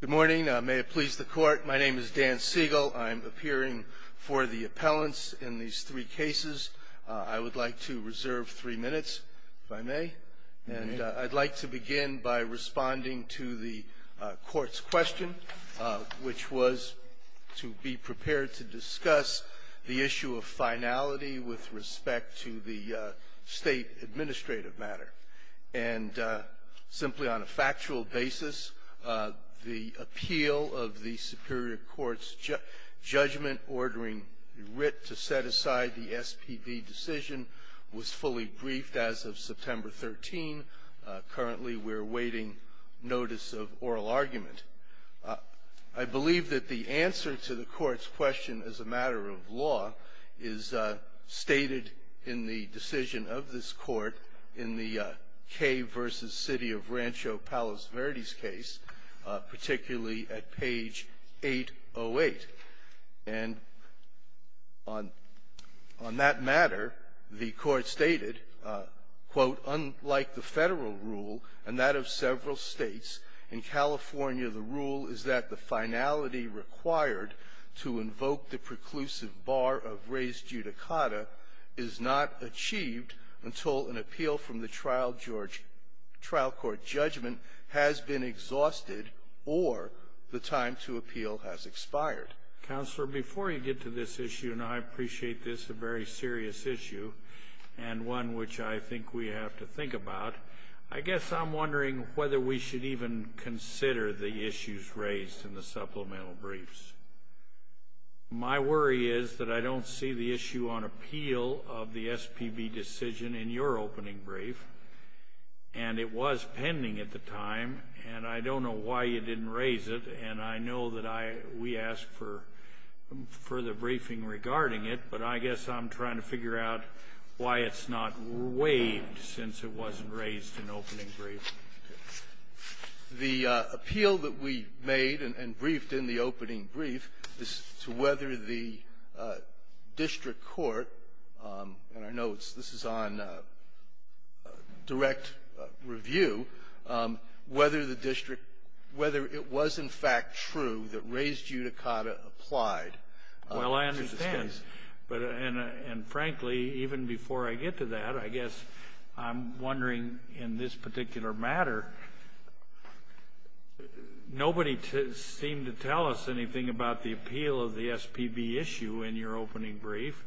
Good morning. May it please the court, my name is Dan Siegel. I'm appearing for the appellants in these three cases. I would like to reserve three minutes, if I may. And I'd like to begin by responding to the court's question, which was to be prepared to discuss the issue of finality with respect to the state administrative matter. And simply on a factual basis, the appeal of the superior court's judgment ordering Writ to set aside the SPB decision was fully briefed as of September 13. Currently, we're awaiting notice of oral argument. I believe that the answer to the court's question as a matter of law is stated in the decision of this Court in the Cave v. City of Rancho Palos Verdes case, particularly at page 808. And on that matter, the Court stated, quote, unlike the Federal rule and that of several states, in California the rule is that the finality required to invoke the preclusive bar of res judicata is not achieved until an appeal from the trial court judgment has been exhausted or the time to appeal has expired. Counselor, before you get to this issue, and I appreciate this, a very serious issue, and one which I think we have to think about, I guess I'm wondering whether we should even consider the issues raised in the supplemental briefs. My worry is that I don't see the issue on appeal of the SPB decision in your opening brief, and it was pending at the time, and I don't know why you didn't raise it, and I know that we asked for further briefing regarding it, but I guess I'm trying to figure out why it's not waived since it wasn't raised in the opening brief. The appeal that we made and briefed in the opening brief is to whether the district court, and I know this is on direct review, whether the district – whether it was, in fact, true that res judicata applied. Well, I understand, but – and frankly, even before I get to that, I guess I'm wondering in this particular matter, nobody seemed to tell us anything about the appeal of the SPB issue in your opening brief.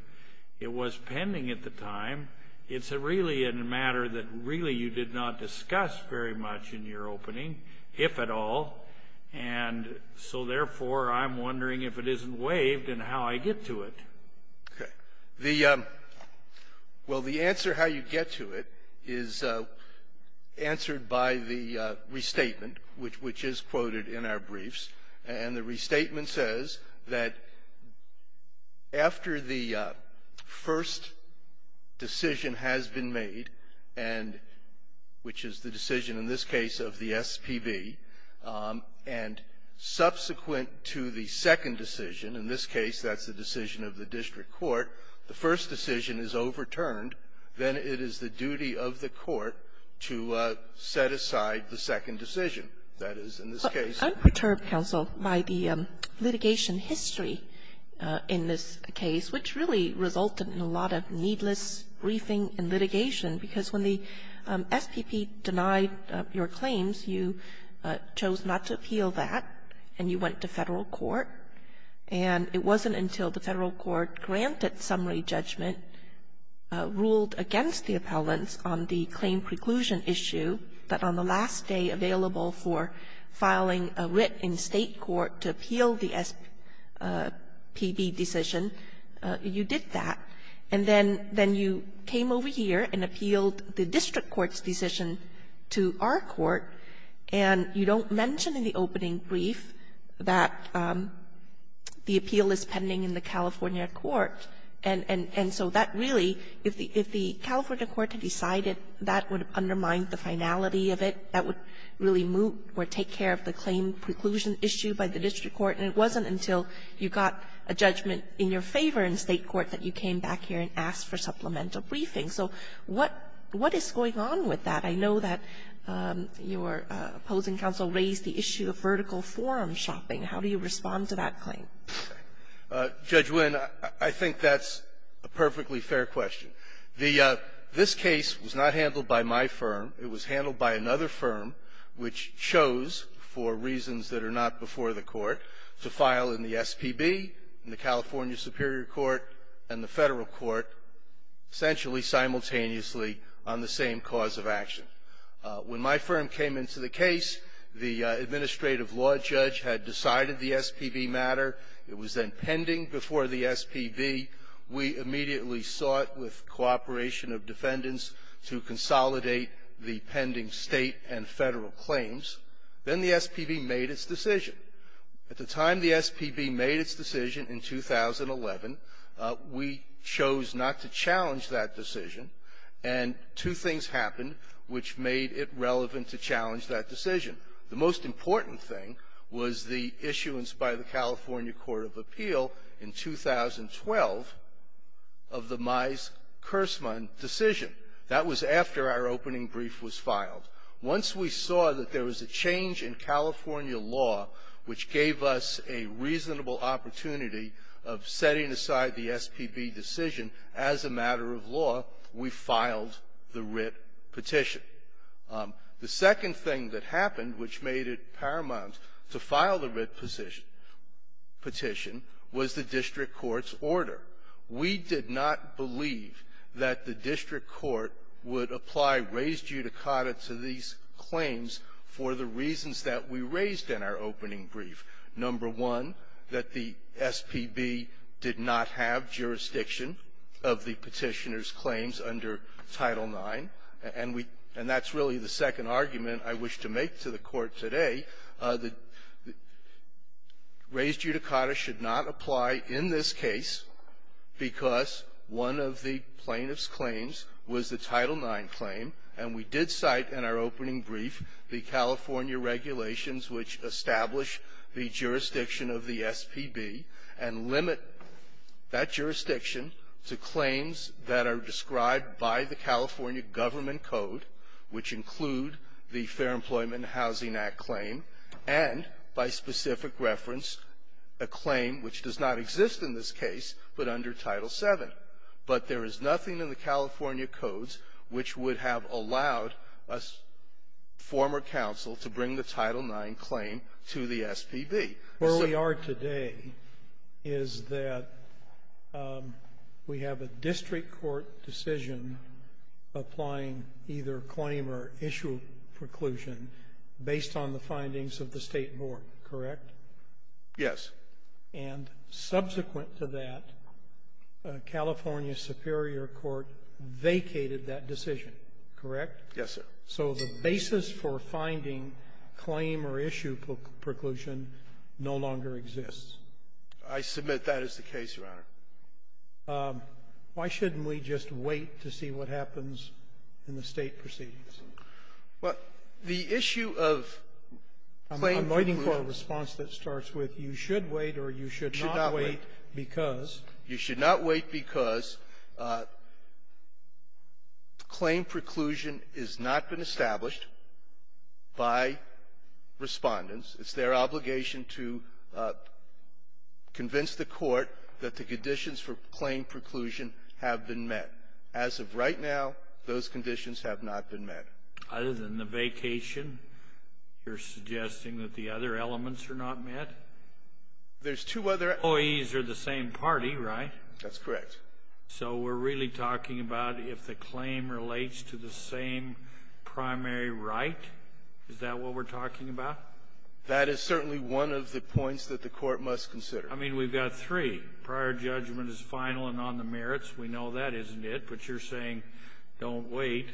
It was pending at the time. It's really a matter that really you did not discuss very much in your opening, if at all, and so therefore, I'm wondering if it isn't waived and how I get to it. Okay. The – well, the answer how you get to it is answered by the restatement, which is quoted in our briefs, and the restatement says that after the first decision has been made and – which is the decision in this case of the SPB, and subsequent to the second decision, in this case, that's the decision of the district court. The first decision is overturned. Then it is the duty of the court to set aside the second decision. That is, in this I'm perturbed, counsel, by the litigation history in this case, which really resulted in a lot of needless briefing and litigation, because when the SPB denied your claims, you chose not to appeal that, and you went to Federal court. And it wasn't until the Federal court granted summary judgment, ruled against the appellants on the claim preclusion issue, that on the last day available for filing a writ in State court to appeal the SPB decision, you did that, and then you came over here and appealed the district court's decision to our court, and you don't mention in the opening brief that the appeal is pending in the California court. And so that really, if the California court had decided that would undermine the finality of it, that would really move or take care of the claim preclusion issue by the district court, and it wasn't until you got a judgment in your favor in State court that you came back here and asked for supplemental briefing. So what is going on with that? I know that your opposing counsel raised the issue of vertical forum shopping. How do you respond to that claim? Carvino, I think that's a perfectly fair question. The this case was not handled by my firm. It was handled by another firm, which chose, for reasons that are not before the court, to file in the SPB, in the California Superior Court, and the Federal Court, essentially simultaneously on the same cause of action. When my firm came into the case, the administrative law judge had decided the SPB matter. It was then pending before the SPB. We immediately sought, with cooperation of defendants, to consolidate the pending State and Federal claims. Then the SPB made its decision. At the time the SPB made its decision in 2011, we chose not to challenge that decision, and two things happened which made it relevant to challenge that decision. The most important thing was the issuance by the California Court of Appeal in 2012 of the Mize-Kersman decision. That was after our opening brief was filed. Once we saw that there was a change in California law which gave us a reasonable opportunity of setting aside the SPB decision as a matter of law, we filed the writ petition. The second thing that happened which made it paramount to file the writ petition was the district court's order. We did not believe that the district court would apply res judicata to these claims for the reasons that we raised in our opening brief. Number one, that the SPB did not have jurisdiction of the Petitioner's claims under Title IX, and we — and that's really the second argument I wish to make to the Court today, that res judicata should not apply in this case because one of the plaintiff's was the Title IX claim, and we did cite in our opening brief the California regulations which establish the jurisdiction of the SPB and limit that jurisdiction to claims that are described by the California government code, which include the Fair Employment and Housing Act claim, and, by specific reference, a claim which does not exist in this case but under Title VII. But there is nothing in the California codes which would have allowed a former counsel to bring the Title IX claim to the SPB. Sotomayor. Where we are today is that we have a district court decision applying either claim or issue preclusion based on the findings of the State Board, correct? Yes. And subsequent to that, California superior court vacated that decision, correct? Yes, sir. So the basis for finding claim or issue preclusion no longer exists. I submit that is the case, Your Honor. Why shouldn't we just wait to see what happens in the State proceedings? Well, the issue of claim preclusion — I'm waiting for a response that starts with, you should wait or you should not wait because — You should not wait because claim preclusion has not been established by Respondents. It's their obligation to convince the Court that the conditions for claim preclusion have been met. As of right now, those conditions have not been met. Other than the vacation, you're suggesting that the other elements are not met? There's two other — Employees are the same party, right? That's correct. So we're really talking about if the claim relates to the same primary right? Is that what we're talking about? That is certainly one of the points that the Court must consider. I mean, we've got three. Prior judgment is final and on the merits. We know that, but you're saying, don't wait,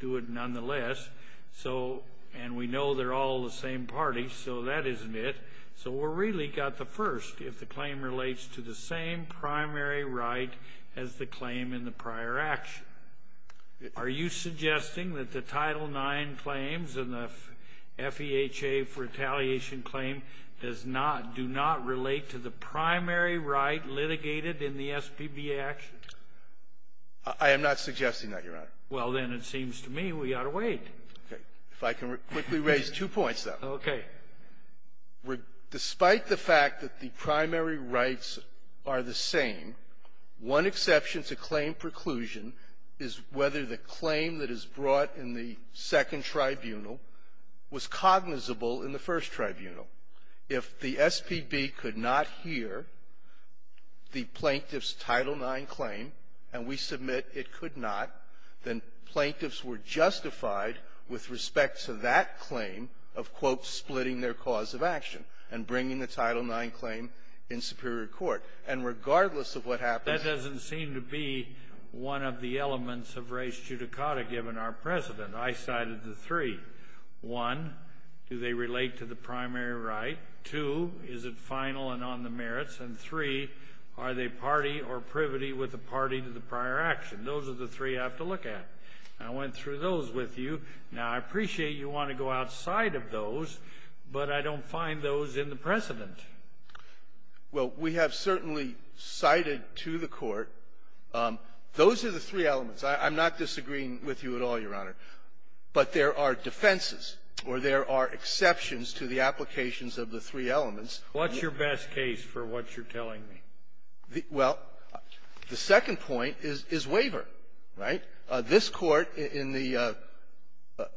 do it nonetheless. And we know they're all the same party, so that isn't it. So we've really got the first, if the claim relates to the same primary right as the claim in the prior action. Are you suggesting that the Title IX claims and the FEHA retaliation claim do not relate to the primary right litigated in the SBBA actions? I am not suggesting that, Your Honor. Well, then it seems to me we ought to wait. Okay. If I can quickly raise two points, though. Okay. Despite the fact that the primary rights are the same, one exception to claim preclusion is whether the claim that is brought in the Second Tribunal was cognizable in the First Tribunal. If the SPB could not hear the Plaintiff's Title IX claim and we submit it could not, then Plaintiffs were justified with respect to that claim of, quote, splitting their cause of action and bringing the Title IX claim in superior court. And regardless of what happens to the primary rights, that doesn't seem to be one of the elements of res judicata given our precedent. I cited the three. One, do they relate to the primary right? Two, is it final and on the merits? And three, are they party or privity with the party to the prior action? Those are the three I have to look at. I went through those with you. Now, I appreciate you want to go outside of those, but I don't find those in the precedent. Well, we have certainly cited to the Court those are the three elements. I'm not disagreeing with you at all, Your Honor. But there are defenses, or there are exceptions to the applications of the three elements. What's your best case for what you're telling me? Well, the second point is waiver, right? This Court in the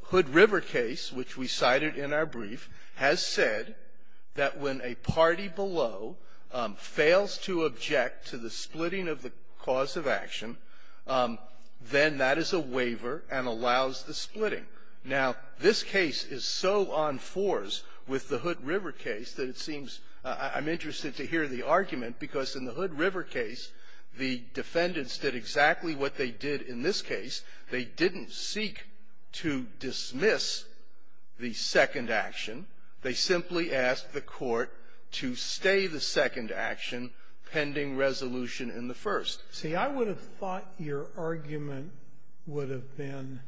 Hood River case, which we cited in our brief, has said that when a party below fails to object to the splitting of the cause of action, then that is a waiver and allows the splitting. Now, this case is so on fours with the Hood River case that it seems I'm interested to hear the argument, because in the Hood River case, the defendants did exactly what they did in this case. They didn't seek to dismiss the second action. They simply asked the Court to stay the second action pending resolution in the first. See, I would have thought your argument would have been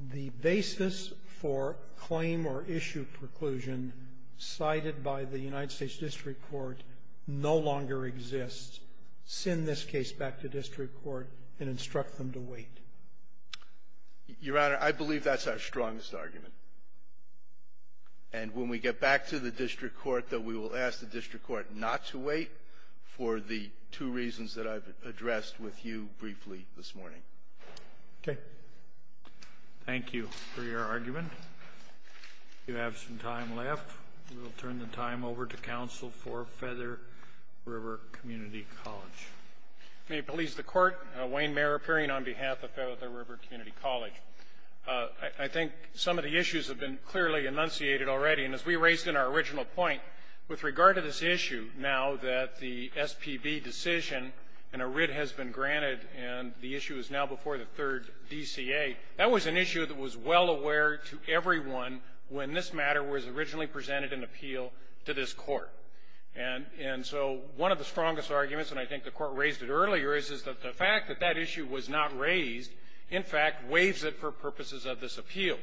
the basis for claim or issue preclusion cited by the United States district court no longer exists. Send this case back to district court and instruct them to wait. Your Honor, I believe that's our strongest argument. And when we get back to the district court, that we will ask the district court not to wait for the two reasons that I've addressed with you briefly this morning. Okay. Thank you for your argument. We have some time left. We'll turn the time over to counsel for Feather River Community College. May it please the Court, Wayne Mayer appearing on behalf of Feather River Community College. I think some of the issues have been clearly enunciated already. And as we raised in our original point, with regard to this issue now that the SPB decision and a writ has been granted and the issue is now before the third DCA, that was an issue that was well aware to everyone when this matter was originally presented in appeal to this court. And so one of the strongest arguments, and I think the court raised it earlier, is that the fact that that issue was not raised, in fact, waives it for purposes of this appeal.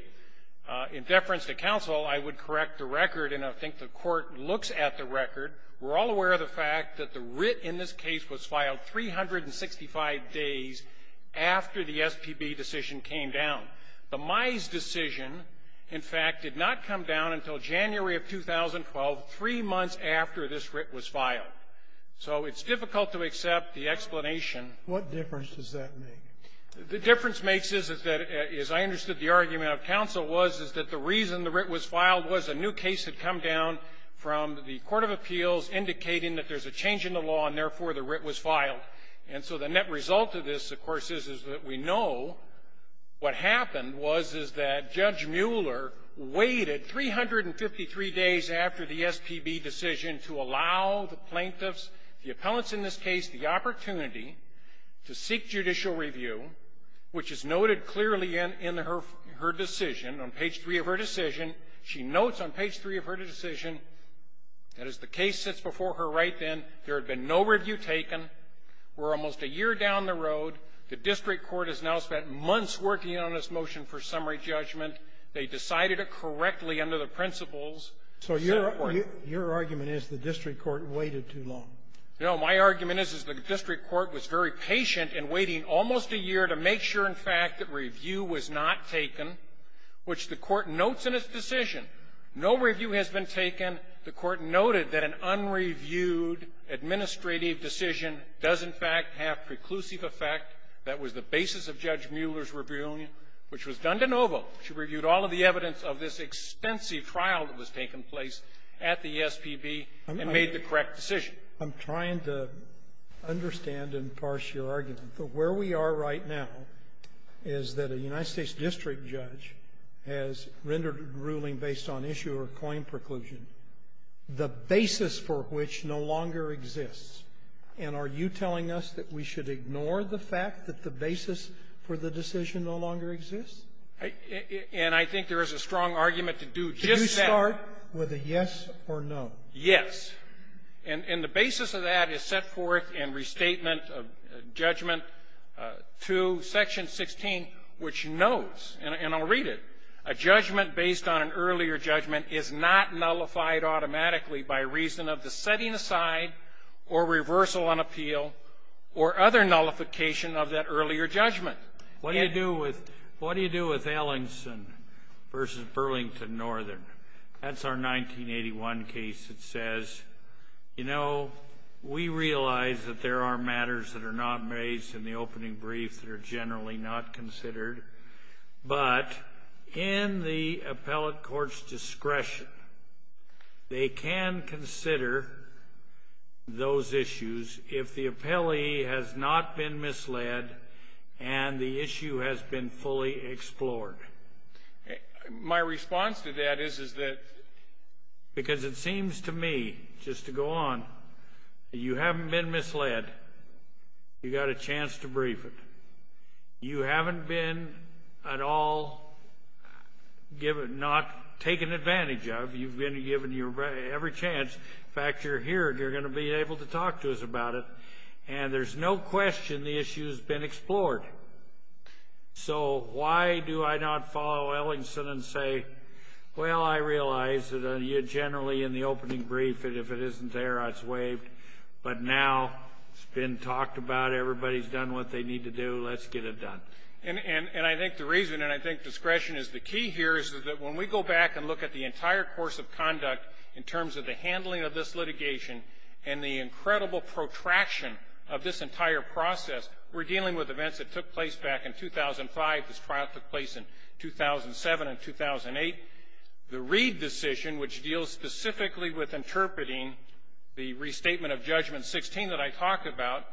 In deference to counsel, I would correct the record, and I think the court looks at the record. We're all aware of the fact that the writ in this case was filed 365 days after the SPB decision came down. The Mize decision, in fact, did not come down until January of 2012, three months after this writ was filed. So it's difficult to accept the explanation. What difference does that make? The difference makes is that, as I understood the argument of counsel was, is that the reason the writ was filed was a new case had come down from the court of appeals indicating that there's a change in the law and, therefore, the writ was filed. And so the net result of this, of course, is that we know what happened was, is that Judge Mueller waited 353 days after the SPB decision to allow the plaintiffs, the appellants in this case, the opportunity to seek judicial review, which is noted clearly in her decision, on page three of her decision. She notes on page three of her decision that, as the case sits before her right then, there had been no review taken. We're almost a year down the road. The district court has now spent months working on this motion for summary judgment. They decided it correctly under the principles. So your argument is the district court waited too long. No. My argument is, is the district court was very patient in waiting almost a year to make sure, in fact, that review was not taken, which the court notes in its decision. No review has been taken. And the court noted that an unreviewed administrative decision does, in fact, have preclusive effect. That was the basis of Judge Mueller's review, which was done de novo. She reviewed all of the evidence of this extensive trial that was taking place at the SPB and made the correct decision. I'm trying to understand and parse your argument. Where we are right now is that a United States district judge has rendered a ruling based on issue or claim preclusion, the basis for which no longer exists. And are you telling us that we should ignore the fact that the basis for the decision no longer exists? And I think there is a strong argument to do just that. Could you start with a yes or no? Yes. And the basis of that is set forth in Restatement of Judgment 2, Section 16, which notes, and I'll read it, a judgment based on an earlier judgment is not nullified automatically by reason of the setting aside or reversal on appeal or other nullification of that earlier judgment. What do you do with Ellingson versus Burlington Northern? That's our 1981 case that says, you know, we realize that there are matters that are not raised in the opening brief that are generally not considered. But in the appellate court's discretion, they can consider those issues if the appellee has not been misled and the issue has been fully explored. My response to that is, is that... Because it seems to me, just to go on, that you haven't been misled. You got a chance to brief it. You haven't been at all given... Not taken advantage of. You've been given your every chance. In fact, you're here and you're going to be able to talk to us about it. And there's no question the issue has been explored. So why do I not follow Ellingson and say, well, I realize that generally in the opening brief, if it isn't there, it's waived. But now it's been talked about, everybody's done what they need to do, let's get it done. And I think the reason, and I think discretion is the key here, is that when we go back and look at the entire course of conduct in terms of the handling of this litigation and the trial, which took place back in 2005, this trial took place in 2007 and 2008, the Reed decision, which deals specifically with interpreting the restatement of Judgment 16 that I talk about,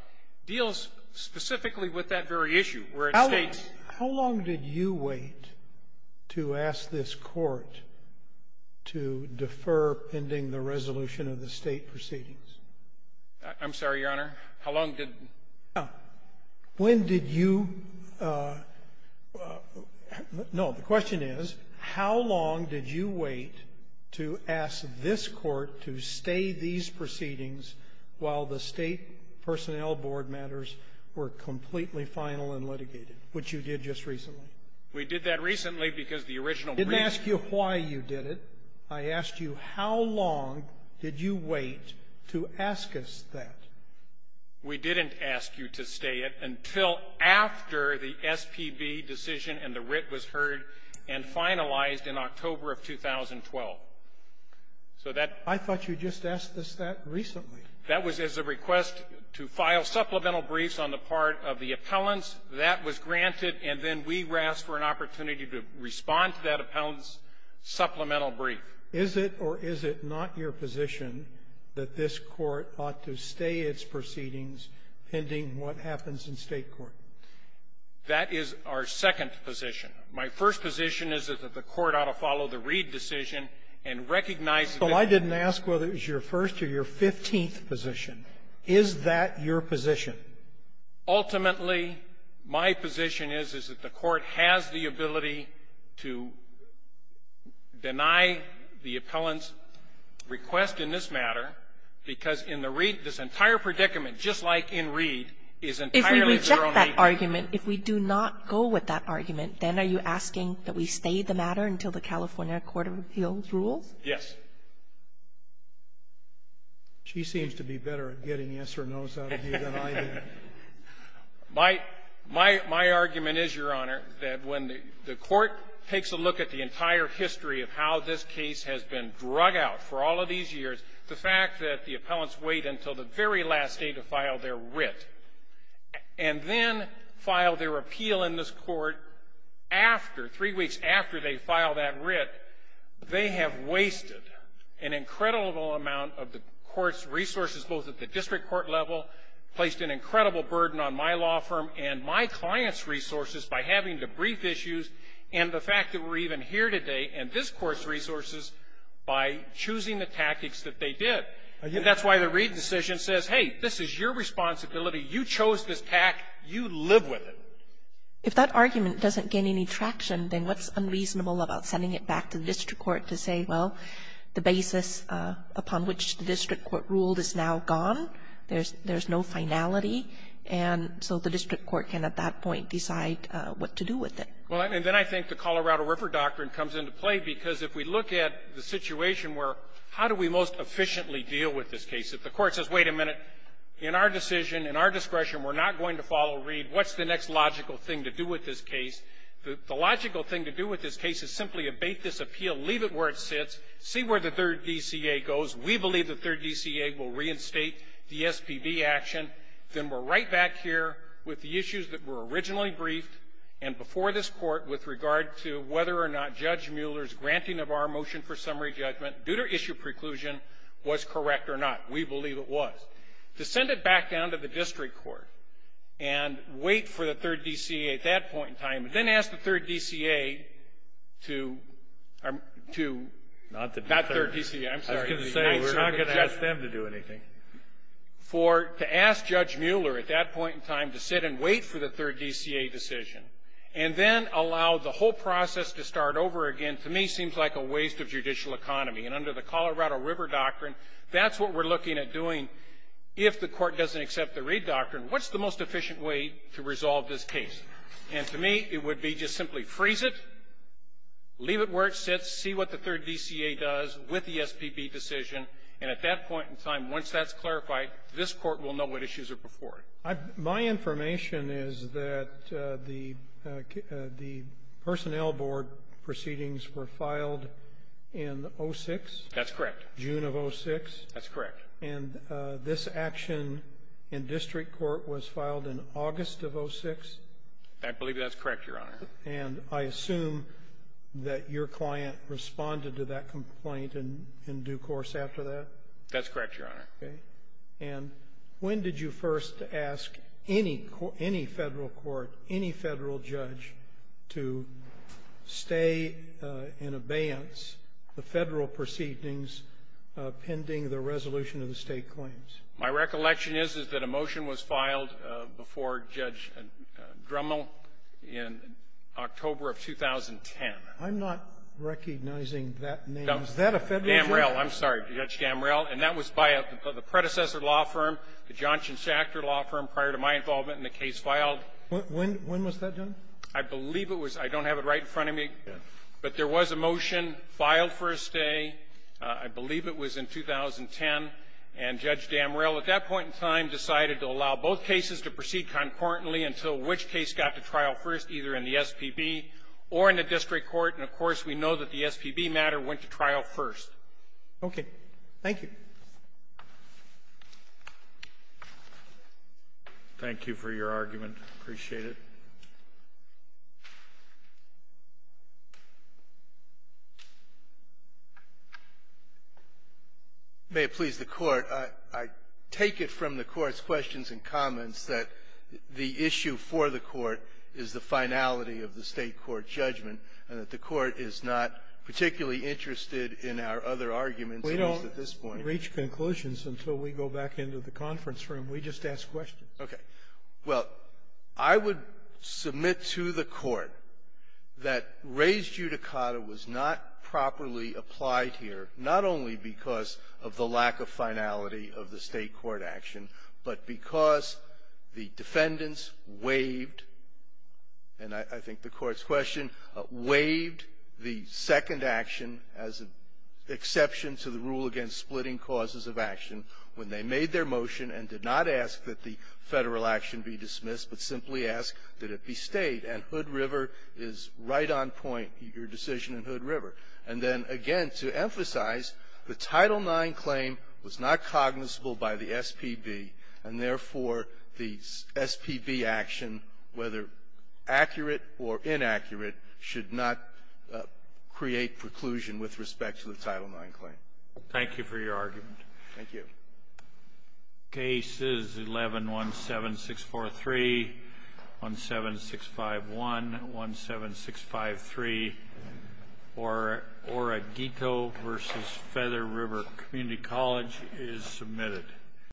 deals specifically with that very issue, where it states... How long did you wait to ask this Court to defer pending the resolution of the State proceedings? I'm sorry, Your Honor. How long did... No. When did you no, the question is, how long did you wait to ask this Court to stay these proceedings while the State personnel board matters were completely final and litigated, which you did just recently? We did that recently because the original... I didn't ask you why you did it. I asked you how long did you wait to ask us that? We didn't ask you to stay it until after the SPB decision and the writ was heard and finalized in October of 2012. So that... I thought you just asked us that recently. That was as a request to file supplemental briefs on the part of the appellants. That was granted, and then we asked for an opportunity to respond to that appellant's supplemental brief. Is it or is it not your position that this Court ought to stay its proceedings pending what happens in State court? That is our second position. My first position is that the Court ought to follow the Reid decision and recognize that... So I didn't ask whether it was your first or your 15th position. Is that your position? Ultimately, my position is, is that the Court has the ability to deny the appellant's request in this matter because in the Reid, this entire predicament, just like in Reid, is entirely their own... If we reject that argument, if we do not go with that argument, then are you asking that we stay the matter until the California Court of Appeals rules? Yes. She seems to be better at getting yes or no's out of you than I do. My argument is, Your Honor, that when the Court takes a look at the entire history of how this case has been drug out for all of these years, the fact that the appellants wait until the very last day to file their writ and then file their appeal in this matter, an incredible amount of the Court's resources, both at the district court level, placed an incredible burden on my law firm and my client's resources by having to brief issues and the fact that we're even here today and this Court's resources by choosing the tactics that they did. That's why the Reid decision says, hey, this is your responsibility. You chose this tact. You live with it. If that argument doesn't gain any traction, then what's unreasonable about sending it back to the district court to say, well, the basis upon which the district court ruled is now gone, there's no finality, and so the district court can, at that point, decide what to do with it. Well, and then I think the Colorado River Doctrine comes into play, because if we look at the situation where how do we most efficiently deal with this case? If the Court says, wait a minute, in our decision, in our discretion, we're not going to follow Reid, what's the next logical thing to do with this case? The logical thing to do with this case is simply abate this appeal, leave it where it sits, see where the third DCA goes. We believe the third DCA will reinstate the SPB action. Then we're right back here with the issues that were originally briefed, and before this Court, with regard to whether or not Judge Mueller's granting of our motion for summary judgment, due to issue preclusion, was correct or not. We believe it was. To send it back down to the district court and wait for the third DCA at that point in time, and then ask the third DCA to — Not the third. Not third DCA. I'm sorry. I was going to say, we're not going to ask them to do anything. For — to ask Judge Mueller at that point in time to sit and wait for the third DCA decision, and then allow the whole process to start over again, to me, seems like a waste of judicial economy. And under the Colorado River Doctrine, that's what we're looking at doing. If the Court doesn't accept the Reid Doctrine, what's the most efficient way to resolve this case? And to me, it would be just simply freeze it, leave it where it sits, see what the third DCA does with the SPB decision, and at that point in time, once that's clarified, this Court will know what issues are before it. My information is that the personnel board proceedings were filed in 06? That's correct. June of 06? That's correct. And this action in district court was filed in August of 06? I believe that's correct, Your Honor. And I assume that your client responded to that complaint in due course after that? That's correct, Your Honor. Okay. And when did you first ask any — any Federal court, any Federal judge to stay in abeyance the Federal proceedings pending the resolution of the State claims? My recollection is, is that a motion was filed before Judge Drummoll in October of 2010. I'm not recognizing that name. Is that a Federal judge? Gamrell. I'm sorry. Judge Gamrell. And that was by the predecessor law firm, the Johnson Sachter law firm, prior to my involvement in the case filed. When was that done? I believe it was. I don't have it right in front of me. But there was a motion filed for a stay. I believe it was in 2010. And Judge Gamrell, at that point in time, decided to allow both cases to proceed concordantly until which case got to trial first, either in the SPB or in the district court. And, of course, we know that the SPB matter went to trial first. Okay. Thank you. Thank you for your argument. I appreciate it. May it please the Court, I take it from the Court's questions and comments that the issue for the Court is the finality of the State court judgment and that the Court is not particularly interested in our other arguments at this point. We don't reach conclusions until we go back into the conference room. We just ask questions. Okay. Well, I would submit to the Court that raised judicata was not properly applied here, not only because of the lack of finality of the State court action, but because the defendants waived, and I think the Court's question, waived the second action as an exception to the rule against splitting causes of action when they made their motion and did not ask that the Federal action be dismissed, but simply asked that it be State, and Hood River is right on point, your decision in Hood River. And then, again, to emphasize, the Title IX claim was not cognizable by the SPB, and, therefore, the SPB action, whether accurate or inaccurate, should not create preclusion with respect to the Title IX claim. Thank you for your argument. Thank you. The case is 11-17643, 17651, 17653, Oregico v. Feather River Community College is submitted.